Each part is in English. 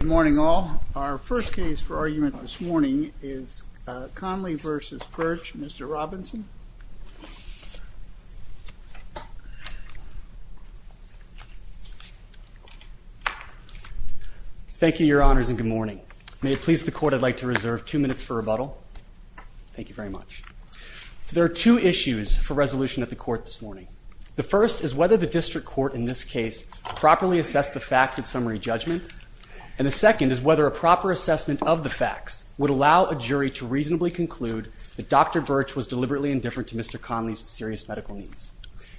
Good morning all. Our first case for argument this morning is Conley v. Birch. Mr. Robinson. Thank you, your honors, and good morning. May it please the court I'd like to reserve two minutes for rebuttal. Thank you very much. There are two issues for resolution at the court this morning. The first is whether the district court in this case properly assessed the facts at summary judgment, and the second is whether a proper assessment of the facts would allow a jury to reasonably conclude that Dr. Birch was deliberately indifferent to Mr. Conley's serious medical needs.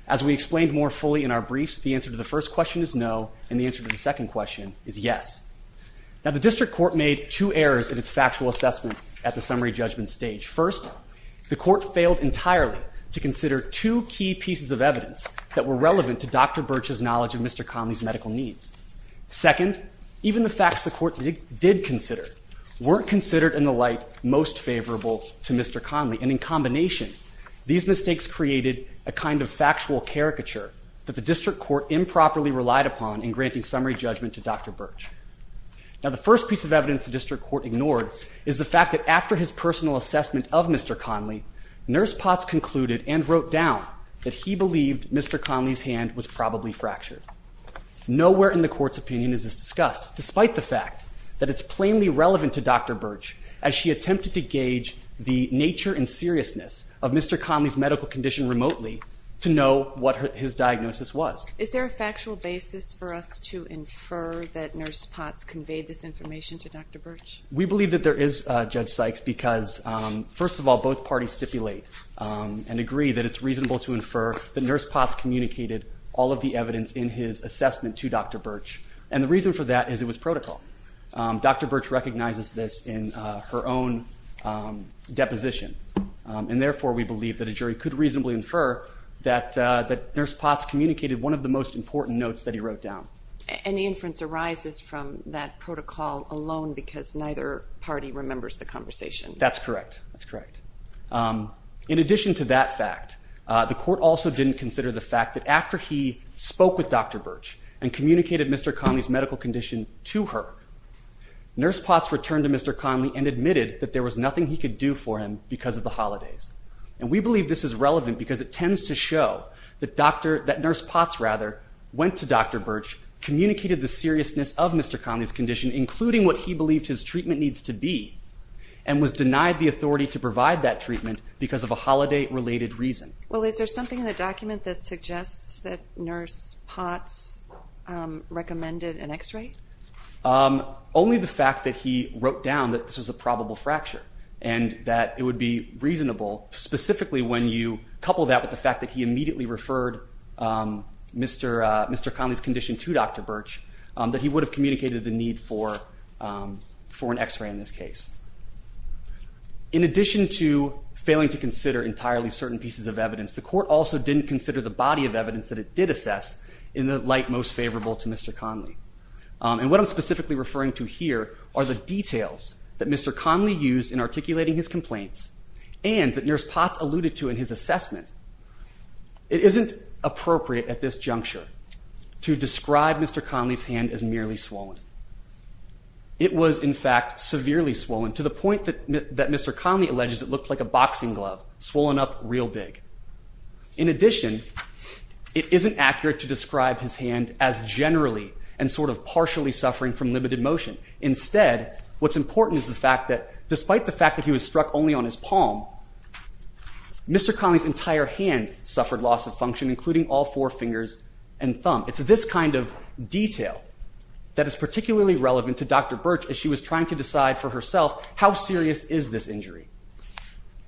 As we explained more fully in our briefs, the answer to the first question is no, and the answer to the second question is yes. Now the district court made two errors in its factual assessment at the summary judgment stage. First, the court failed entirely to consider two key pieces of evidence that were relevant to Dr. Birch's knowledge of Mr. Conley's medical needs. Second, even the facts the court did consider weren't considered in the light most favorable to Mr. Conley, and in combination these mistakes created a kind of factual caricature that the district court improperly relied upon in granting summary judgment to Dr. Birch. Now the first piece of evidence the district court ignored is the fact that after his personal assessment of Mr. Conley, nurse Potts concluded and wrote down that he believed Mr. Conley's hand was probably fractured. Nowhere in the court's opinion is this discussed despite the fact that it's plainly relevant to Dr. Birch as she attempted to gauge the nature and seriousness of Mr. Conley's medical condition remotely to know what his diagnosis was. Is there a factual basis for us to infer that nurse Potts conveyed this information to Dr. Birch? We believe that there is, Judge Sykes, because first of all, both parties stipulate and agree that it's reasonable to infer that his assessment to Dr. Birch, and the reason for that is it was protocol. Dr. Birch recognizes this in her own deposition, and therefore we believe that a jury could reasonably infer that nurse Potts communicated one of the most important notes that he wrote down. And the inference arises from that protocol alone because neither party remembers the conversation? That's correct, that's correct. In addition to that fact, the court also didn't consider the fact that after he and communicated Mr. Conley's medical condition to her, nurse Potts returned to Mr. Conley and admitted that there was nothing he could do for him because of the holidays. And we believe this is relevant because it tends to show that nurse Potts went to Dr. Birch, communicated the seriousness of Mr. Conley's condition, including what he believed his treatment needs to be, and was denied the authority to provide that treatment because of a holiday-related reason. Well, is there something in the document that suggests that nurse Potts recommended an x-ray? Only the fact that he wrote down that this was a probable fracture, and that it would be reasonable, specifically when you couple that with the fact that he immediately referred Mr. Conley's condition to Dr. Birch, that he would have communicated the need for an x-ray in this case. In addition to failing to consider entirely certain pieces of evidence, the court also didn't consider the body of evidence that it did assess in the light most favorable to Mr. Conley. And what I'm specifically referring to here are the details that Mr. Conley used in articulating his complaints, and that nurse Potts alluded to in his assessment. It isn't appropriate at this to the point that Mr. Conley alleges it looked like a boxing glove swollen up real big. In addition, it isn't accurate to describe his hand as generally and sort of partially suffering from limited motion. Instead, what's important is the fact that despite the fact that he was struck only on his palm, Mr. Conley's entire hand suffered loss of function, including all four fingers and thumb. It's this kind of detail that is particularly relevant to Dr. Birch as she was trying to decide for herself how serious is this injury.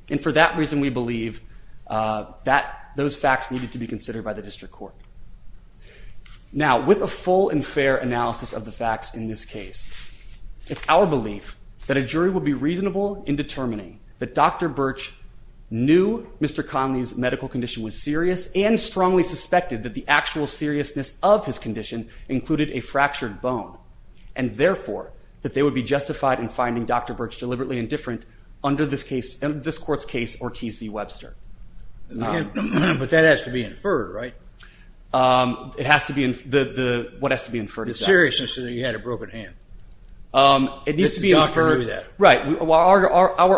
And for that reason, we believe that those facts needed to be considered by the district court. Now, with a full and fair analysis of the facts in this case, it's our belief that a jury would be reasonable in determining that Dr. Birch knew Mr. Conley's medical condition was serious and strongly suspected that the actual seriousness of his condition included a fractured bone, and therefore, that they would be justified in finding Dr. Birch deliberately indifferent under this court's case Ortiz v. Webster. But that has to be inferred, right? It has to be, what has to be inferred? The seriousness that he had a broken hand. It needs to be inferred, right. Our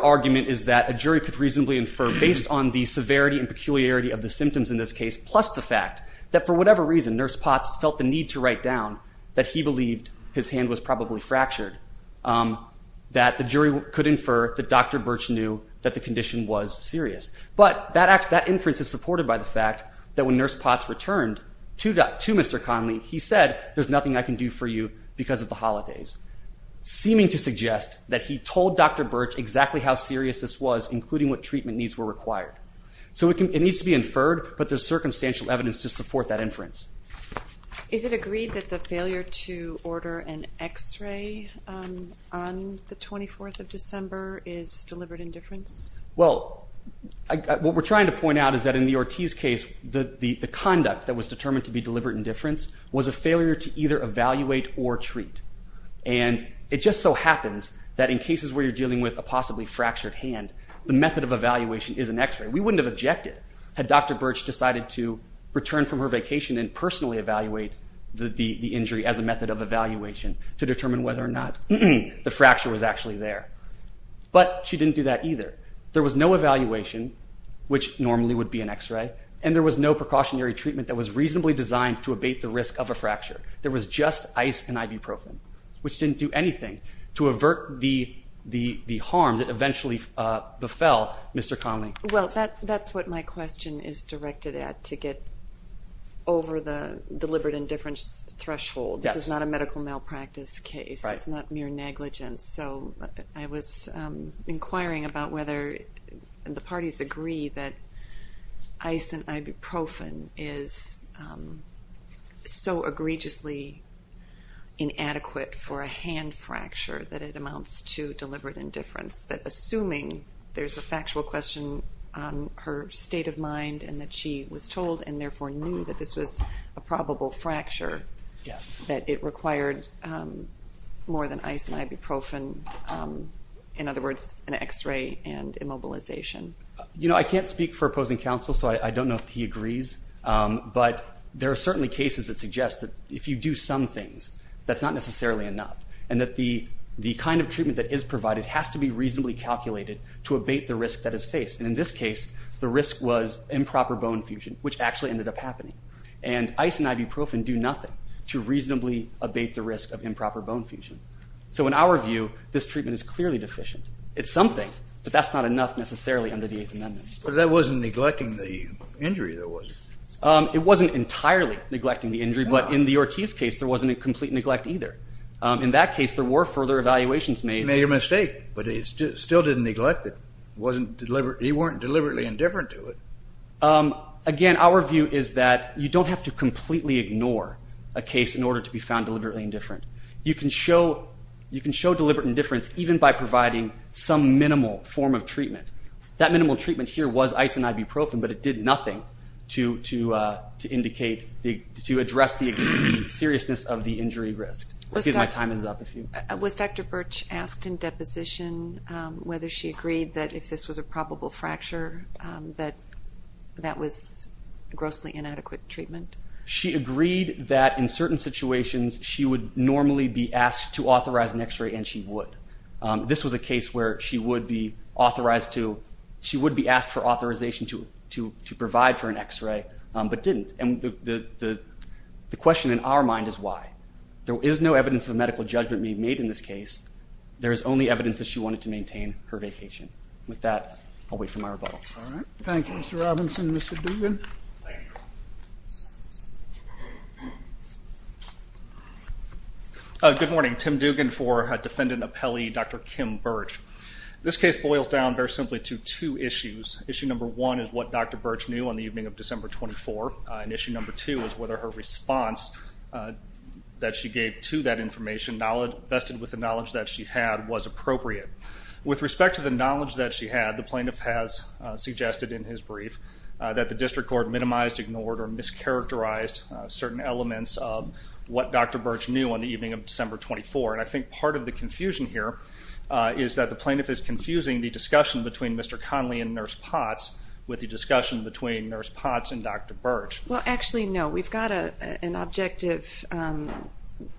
argument is that a jury could reasonably infer based on the severity and peculiarity of the symptoms in this case, plus the fact that for whatever reason, Nurse Potts felt the need to write down that he believed his hand was probably fractured, that the jury could infer that Dr. Birch knew that the condition was serious. But that inference is supported by the fact that when Nurse Potts returned to Mr. Conley, he said, there's nothing I can do for you because of the holidays, seeming to suggest that he told Dr. Birch exactly how serious this was, including what treatment needs were required. So it needs to be inferred, but there's circumstantial evidence to support that inference. Is it agreed that the failure to order an X-ray on the 24th of December is deliberate indifference? Well, what we're trying to point out is that in the Ortiz case, the conduct that was determined to be deliberate indifference was a failure to either evaluate or treat. And it just so happens that in cases where you're dealing with a possibly fractured hand, the method of evaluation is an return from her vacation and personally evaluate the injury as a method of evaluation to determine whether or not the fracture was actually there. But she didn't do that either. There was no evaluation, which normally would be an X-ray, and there was no precautionary treatment that was reasonably designed to abate the risk of a fracture. There was just ice and ibuprofen, which didn't do anything to avert the harm that eventually befell Mr. Conley. Well, that's what my question is directed at, to get over the deliberate indifference threshold. This is not a medical malpractice case. It's not mere negligence. So I was inquiring about whether the parties agree that ice and ibuprofen is so egregiously inadequate for a hand fracture that it amounts to deliberate indifference. Assuming there's a factual question on her state of mind and that she was told and therefore knew that this was a probable fracture, that it required more than ice and ibuprofen, in other words, an X-ray and immobilization. I can't speak for opposing counsel, so I don't know if he agrees. But there are certainly cases that suggest that if you do some things, that's not necessarily enough, and that the kind of treatment that is provided has to be reasonably calculated to abate the risk that is faced. And in this case, the risk was improper bone fusion, which actually ended up happening. And ice and ibuprofen do nothing to reasonably abate the risk of improper bone fusion. So in our view, this treatment is clearly deficient. It's something, but that's not enough necessarily under the Eighth Amendment. But that wasn't neglecting the injury, though, was it? It wasn't entirely neglecting the injury, but in the Ortiz case, there wasn't a complete neglect either. In that case, there were further evaluations made. He made a mistake, but he still didn't neglect it. He wasn't deliberately indifferent to it. Again, our view is that you don't have to completely ignore a case in order to be found deliberately indifferent. You can show deliberate indifference even by providing some minimal form of treatment. That minimal treatment here was ice and ibuprofen, but it did nothing to address the seriousness of the injury risk. Let's see if my time is up. Was Dr. Birch asked in deposition whether she agreed that if this was a probable fracture, that was grossly inadequate treatment? She agreed that in certain situations, she would normally be asked to authorize an x-ray, and she would. This was a case where she would be asked for authorization to provide for an x-ray, but didn't. The question in our mind is why? There is no evidence of medical judgment being made in this case. There is only evidence that she wanted to maintain her vacation. With that, I'll wait for my rebuttal. All right. Thank you, Mr. Robinson. Mr. Dugan? Thank you. Good morning. Tim Dugan for Defendant Appellee Dr. Kim Birch. This case boils down very simply to two issues. Issue number one is what Dr. Birch knew on the evening of December 24, and issue number two is whether her response that she gave to that information vested with the knowledge that she had was appropriate. With respect to the knowledge that she had, the plaintiff has suggested in his brief that the District Court minimized, ignored, or mischaracterized certain elements of what Dr. Birch knew on the evening of December 24. I think part of the confusion here is that the plaintiff is confusing the discussion between Mr. Conley and Nurse Potts with the discussion between Nurse Potts and Dr. Birch. Well, actually, no. We've got an objective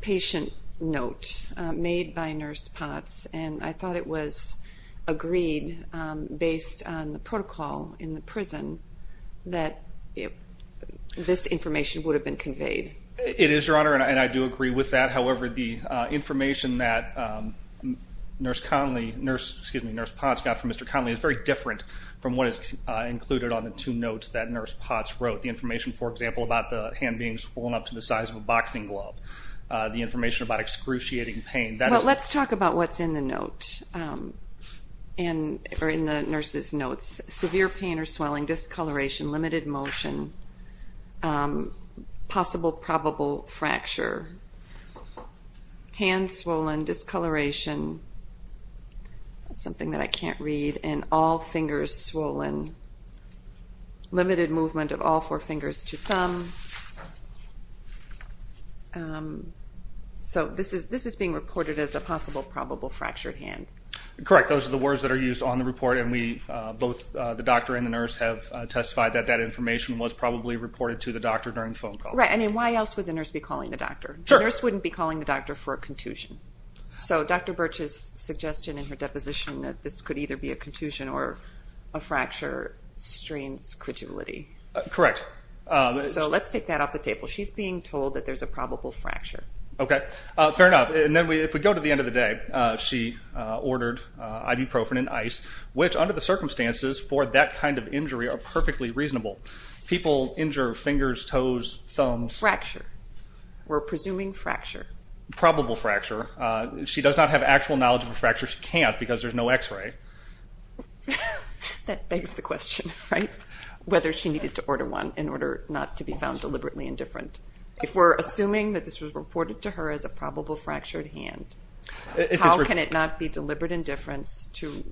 patient note made by Nurse Potts, and I thought it was based on the protocol in the prison that this information would have been conveyed. It is, Your Honor, and I do agree with that. However, the information that Nurse Potts got from Mr. Conley is very different from what is included on the two notes that Nurse Potts wrote. The information, for example, about the hand being swollen up to the size of a boxing or in the nurse's notes, severe pain or swelling, discoloration, limited motion, possible probable fracture, hand swollen, discoloration, something that I can't read, and all fingers swollen, limited movement of all four fingers to thumb. So this is being reported as a possible probable fracture hand. Correct. Those are the words that are used on the report, and both the doctor and the nurse have testified that that information was probably reported to the doctor during the phone call. Right. I mean, why else would the nurse be calling the doctor? The nurse wouldn't be calling the doctor for a contusion. So Dr. Birch's suggestion in her deposition that this could either be a contusion or a fracture strains credulity. Correct. So let's take that off the table. She's being told that there's a probable fracture. Okay. Fair enough. And then if we go to the end of the day, she ordered ibuprofen and ice, which under the circumstances for that kind of injury are perfectly reasonable. People injure fingers, toes, thumbs. Fracture. We're presuming fracture. Probable fracture. She does not have actual knowledge of a fracture. She can't because there's no x-ray. That begs the question, right? Whether she needed to order one in order not to be found deliberately indifferent. If we're assuming that this was reported to her as a probable fractured hand, how can it not be deliberate indifference to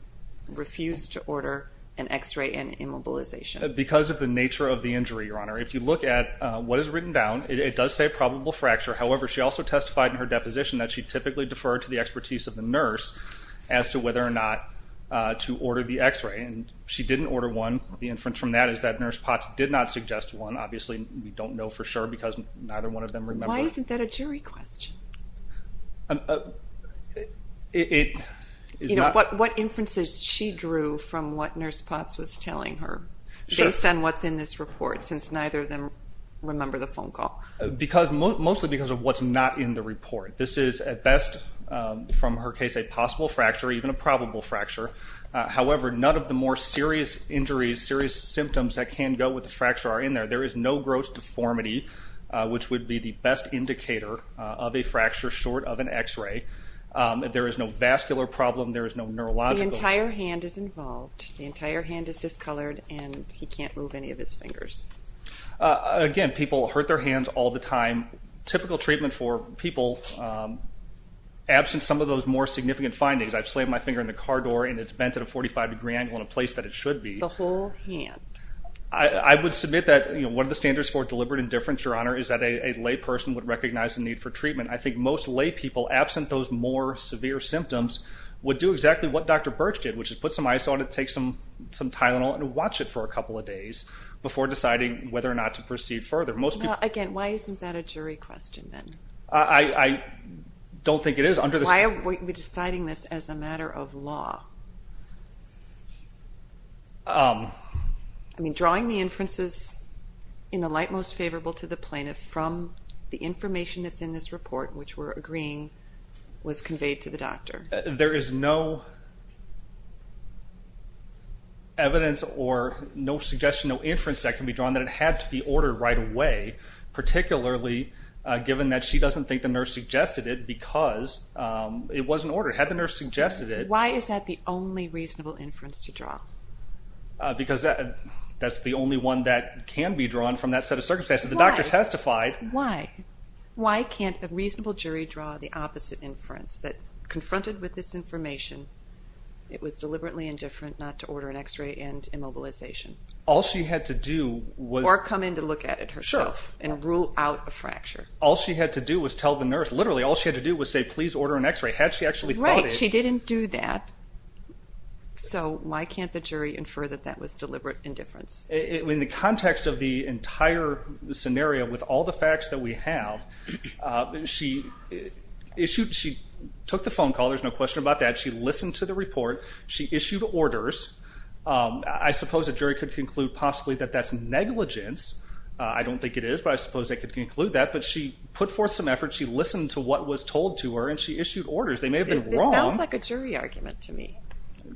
refuse to order an x-ray and immobilization? Because of the nature of the injury, Your Honor. If you look at what is written down, it does say probable fracture. However, she also testified in her deposition that she typically deferred to the expertise of the nurse as to whether or not to order the x-ray. And she didn't order one. The inference from that is that Nurse Potts did not suggest one. Obviously, we don't know for sure because neither one of them remember. Why isn't that a jury question? What inferences she drew from what Nurse Potts was telling her based on what's in this report since neither of them remember the phone call? Because mostly because of what's not in the report. This is at best from her case a possible fracture, even a probable fracture. However, none of the more serious injuries, serious deformity, which would be the best indicator of a fracture short of an x-ray. There is no vascular problem. There is no neurological problem. The entire hand is involved. The entire hand is discolored and he can't move any of his fingers. Again, people hurt their hands all the time. Typical treatment for people, absent some of those more significant findings, I've slammed my finger in the car door and it's bent at a 45 degree angle in a place that it should be. The whole hand. I would submit that one of the standards for deliberate indifference, Your Honor, is that a lay person would recognize the need for treatment. I think most lay people, absent those more severe symptoms, would do exactly what Dr. Birch did, which is put some ice on it, take some Tylenol and watch it for a couple of days before deciding whether or not to proceed further. Now, again, why isn't that a jury question then? I don't think it is. Why are we deciding this as a matter of law? Drawing the inferences in the light most favorable to the plaintiff from the information that's in this report, which we're agreeing was conveyed to the doctor. There is no evidence or no suggestion, no inference that can be drawn that it had to be ordered right away, particularly given that she doesn't think the nurse suggested it because it wasn't ordered. Had the nurse suggested it... Why is that the only reasonable inference to draw? Because that's the only one that can be drawn from that set of circumstances. The doctor testified... Why? Why can't a reasonable jury draw the opposite inference that, confronted with this information, it was deliberately indifferent not to order an X-ray and immobilization? All she had to do was... Or come in to look at it herself and rule out a fracture. All she had to do was tell the nurse, literally, all she had to do was say, please order an X-ray. Had she actually thought it... She didn't do that, so why can't the jury infer that that was deliberate indifference? In the context of the entire scenario, with all the facts that we have, she took the phone call. There's no question about that. She listened to the report. She issued orders. I suppose a jury could conclude, possibly, that that's negligence. I don't think it is, but I suppose they could conclude that. But she put forth some effort. She listened to what was told to her, and she issued orders. They may have been wrong. It sounds like a jury argument to me.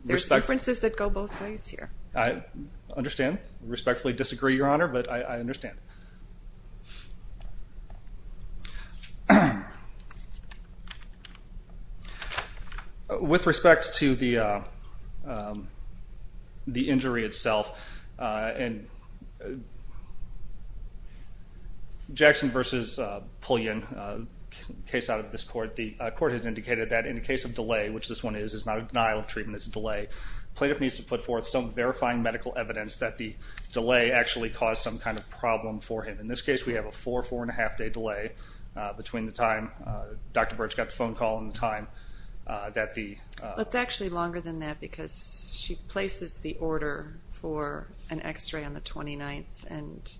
There's inferences that go both ways here. I understand, respectfully disagree, Your Honor, but I understand. With respect to the injury itself, in the Jackson v. Pullian case out of this court, the court has indicated that in the case of delay, which this one is, it's not a denial of treatment, it's a delay, the plaintiff needs to put forth some verifying medical evidence that the delay actually caused some kind of problem for him. In this case, we have a four, four-and-a-half-day delay between the time Dr. Burch got the phone call and the time that the... It's actually longer than that because she places the order for an x-ray on the 29th, and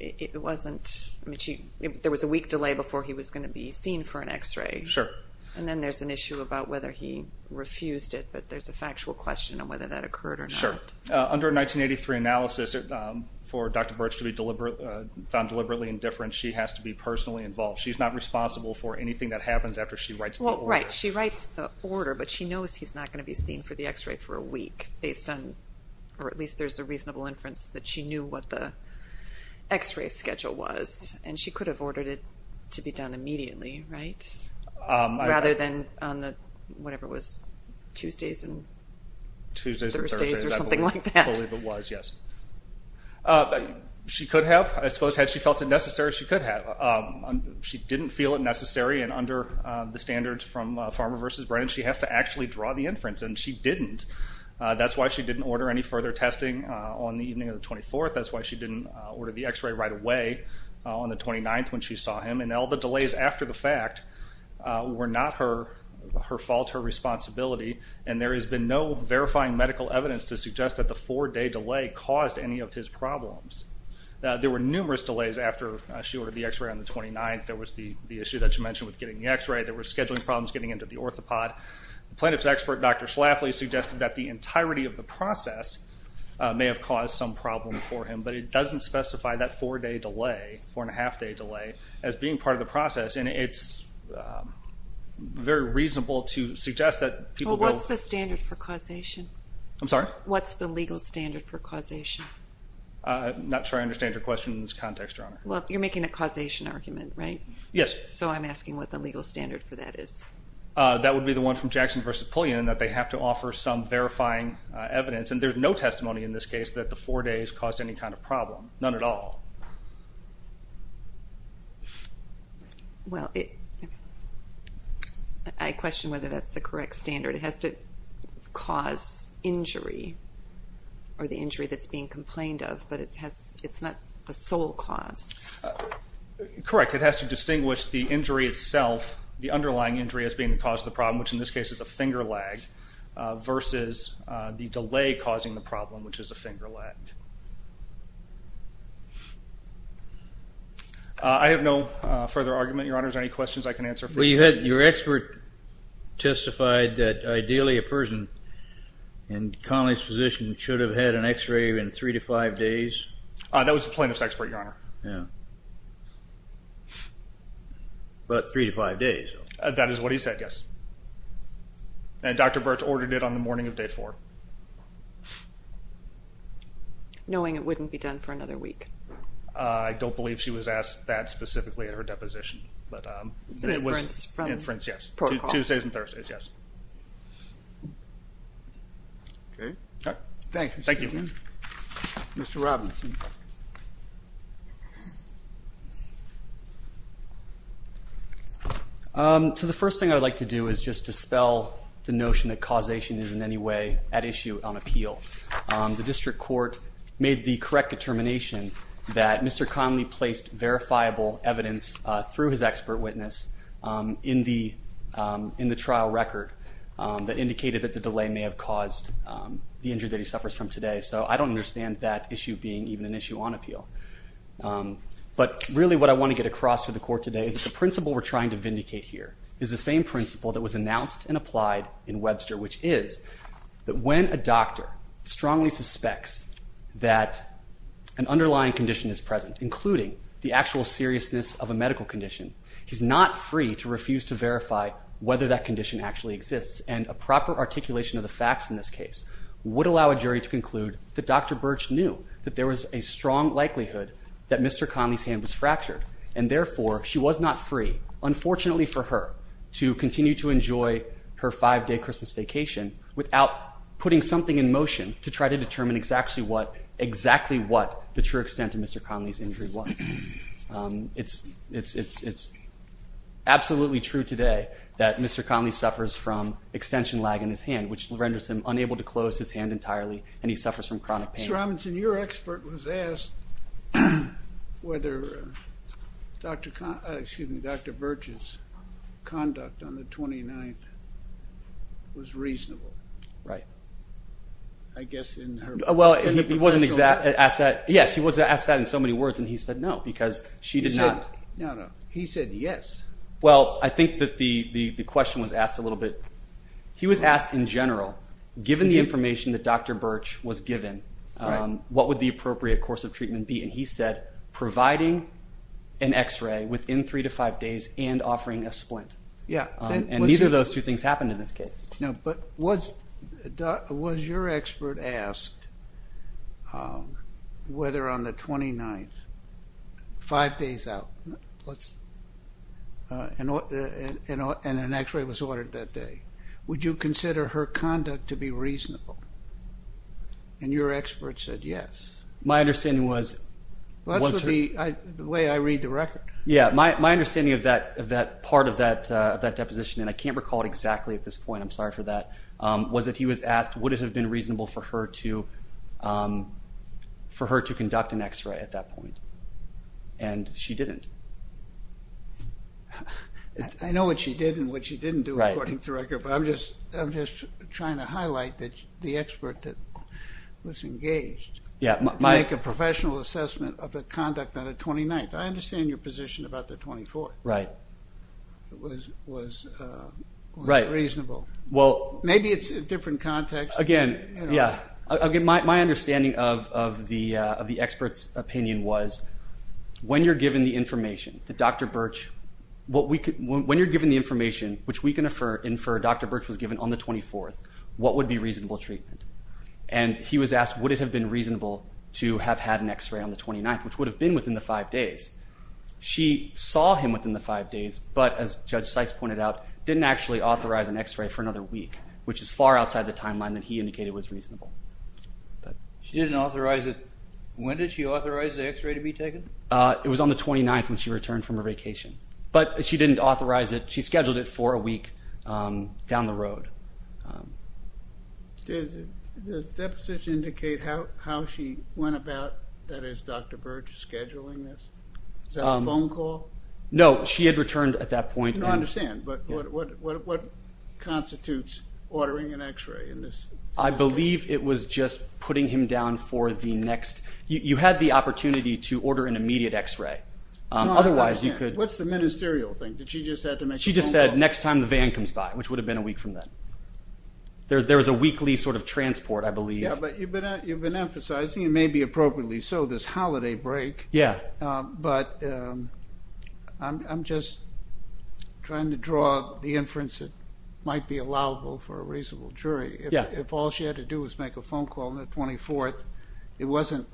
it wasn't... There was a week delay before he was going to be seen for an x-ray. Sure. And then there's an issue about whether he refused it, but there's a factual question on whether that occurred or not. Sure. Under 1983 analysis, for Dr. Burch to be found deliberately indifferent, she has to be personally involved. She's not responsible for anything that happens after she writes the order. But she knows he's not going to be seen for the x-ray for a week based on, or at least there's a reasonable inference that she knew what the x-ray schedule was, and she could have ordered it to be done immediately, right? Rather than on the, whatever it was, Tuesdays and Thursdays or something like that. I believe it was, yes. She could have. I suppose had she felt it necessary, she could have. She didn't feel it necessary, and under the standards from Farmer versus Brennan, she has to actually draw the inference, and she didn't. That's why she didn't order any further testing on the evening of the 24th. That's why she didn't order the x-ray right away on the 29th when she saw him. And all the delays after the fact were not her fault, her responsibility. And there has been no verifying medical evidence to suggest that the four-day delay caused any of his problems. There were numerous delays after she ordered the x-ray on the 29th. There was the issue that you mentioned with getting the x-ray. There were scheduling problems getting into the orthopod. The plaintiff's expert, Dr. Schlafly, suggested that the entirety of the process may have caused some problem for him, but it doesn't specify that four-day delay, four-and-a-half-day delay, as being part of the process. And it's very reasonable to suggest that people will... What's the standard for causation? I'm sorry? What's the legal standard for causation? I'm not sure I understand your question in this context, Your Honor. Well, you're making a causation argument, right? Yes. So I'm asking what the legal standard for that is. That would be the one from Jackson v. Pullian, that they have to offer some verifying evidence. And there's no testimony in this case that the four days caused any kind of problem, none at all. Well, I question whether that's the correct standard. It has to cause injury or the injury that's being complained of, but it's not the sole cause. Correct. It has to distinguish the injury itself, the underlying injury as being the cause of the problem, which in this case is a finger lag, versus the delay causing the problem, which is a finger lag. I have no further argument, Your Honor. Is there any questions I can answer? Well, your expert testified that ideally a person in Connolly's position should have had an x-ray in three to five days. That was the plaintiff's expert, Your Honor. Yeah. But three to five days. That is what he said, yes. And Dr. Virch ordered it on the morning of day four. Knowing it wouldn't be done for another week. I don't believe she was asked that specifically at her deposition. But it was inference, yes. Tuesdays and Thursdays, yes. Okay. Thank you. Thank you. Mr. Robinson. So the first thing I'd like to do is just dispel the notion that causation is in any way at issue on appeal. The district court made the correct determination that Mr. Connolly placed verifiable evidence through his expert witness in the trial record that indicated that the delay may have caused the injury that he suffers from today. So I don't understand that issue being even an issue on appeal. But really what I want to get across to the court today is the principle we're trying to vindicate here is the same principle that was announced and applied in Webster, which is that when a doctor strongly suspects that an underlying condition is present, including the actual seriousness of a medical condition, he's not free to refuse to verify whether that condition actually exists. And a proper articulation of the facts in this case would allow a jury to conclude that Dr. Birch knew that there was a strong likelihood that Mr. Connolly's hand was fractured. And therefore, she was not free, unfortunately for her, to continue to enjoy her five-day Christmas vacation without putting something in motion to try to determine exactly what the true extent of Mr. Connolly's injury was. It's absolutely true today that Mr. Connolly suffers from extension lag in his hand, which Mr. Robinson, your expert was asked whether Dr. Birch's conduct on the 29th was reasonable. Right. I guess in her... Well, he wasn't asked that. Yes, he was asked that in so many words. And he said no, because she did not... No, no. He said yes. Well, I think that the question was asked a little bit... He was asked in general, given the information that Dr. Birch was given, what would the appropriate course of treatment be? And he said providing an x-ray within three to five days and offering a splint. Yeah. And neither of those two things happened in this case. No, but was your expert asked whether on the 29th, five days out, and an x-ray was ordered that day, would you consider her conduct to be reasonable? And your expert said yes. My understanding was... Well, that's the way I read the record. Yeah. My understanding of that part of that deposition, and I can't recall it exactly at this point, I'm sorry for that, was that he was asked would it have been reasonable for her to conduct an x-ray at that point. And she didn't. I know what she did and what she didn't do. But I'm just trying to highlight that the expert that was engaged to make a professional assessment of the conduct on the 29th. I understand your position about the 24th. Right. It was reasonable. Well... Maybe it's a different context. Again, yeah. Again, my understanding of the expert's opinion was when you're given the information that Dr. Birch was given on the 24th, what would be reasonable treatment? And he was asked would it have been reasonable to have had an x-ray on the 29th, which would have been within the five days. She saw him within the five days, but as Judge Sykes pointed out, didn't actually authorize an x-ray for another week, which is far outside the timeline that he indicated was reasonable. She didn't authorize it... When did she authorize the x-ray to be taken? It was on the 29th when she returned from her vacation. But she didn't authorize it. She scheduled it for a week down the road. Did the deposition indicate how she went about, that is, Dr. Birch, scheduling this? Was that a phone call? No, she had returned at that point. I understand. But what constitutes ordering an x-ray in this case? I believe it was just putting him down for the next... You had the opportunity to order an immediate x-ray. Otherwise, you could... What's the ministerial thing? Did she just have to make a phone call? She just said, next time the van comes by, which would have been a week from then. There was a weekly sort of transport, I believe. Yeah, but you've been emphasizing, and maybe appropriately so, this holiday break. Yeah. But I'm just trying to draw the inference that might be allowable for a reasonable jury. Yeah. If all she had to do was make a phone call on the 24th, it wasn't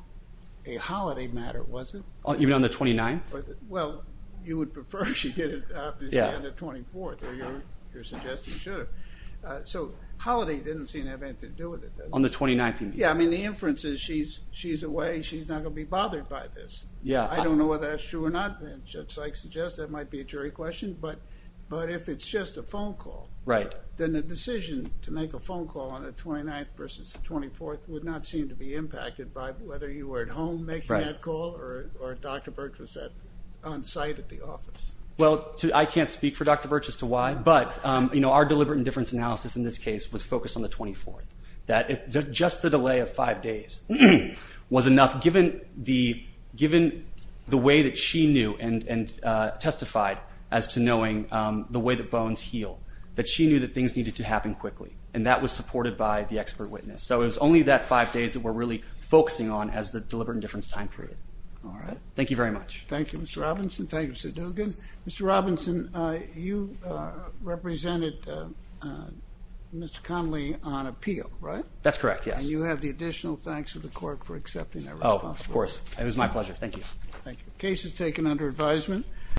a holiday matter, was it? Even on the 29th? Well, you would prefer she did it, obviously, on the 24th, or you're suggesting she should have. So holiday didn't seem to have anything to do with it. On the 29th, you mean? Yeah, I mean, the inference is she's away, she's not going to be bothered by this. Yeah. I don't know whether that's true or not, and Judge Sykes suggests that might be a jury question. But if it's just a phone call, then the decision to make a phone call on the 29th versus the 24th would not seem to be impacted by whether you were at home making that call or Dr. Birch was at on-site at the office. Well, I can't speak for Dr. Birch as to why, but our deliberate indifference analysis in this case was focused on the 24th, that just the delay of five days was enough, given the way that she knew and testified as to knowing the way that bones heal, that she knew that things needed to happen quickly, and that was supported by the expert witness. So it was only that five days that we're really focusing on as the deliberate indifference time period. All right. Thank you very much. Thank you, Mr. Robinson. Thank you, Mr. Dugan. Mr. Robinson, you represented Mr. Connolly on appeal, right? That's correct, yes. And you have the additional thanks of the court for accepting that responsibility. Oh, of course. It was my pleasure. Thank you. Thank you. Case is taken under advisement.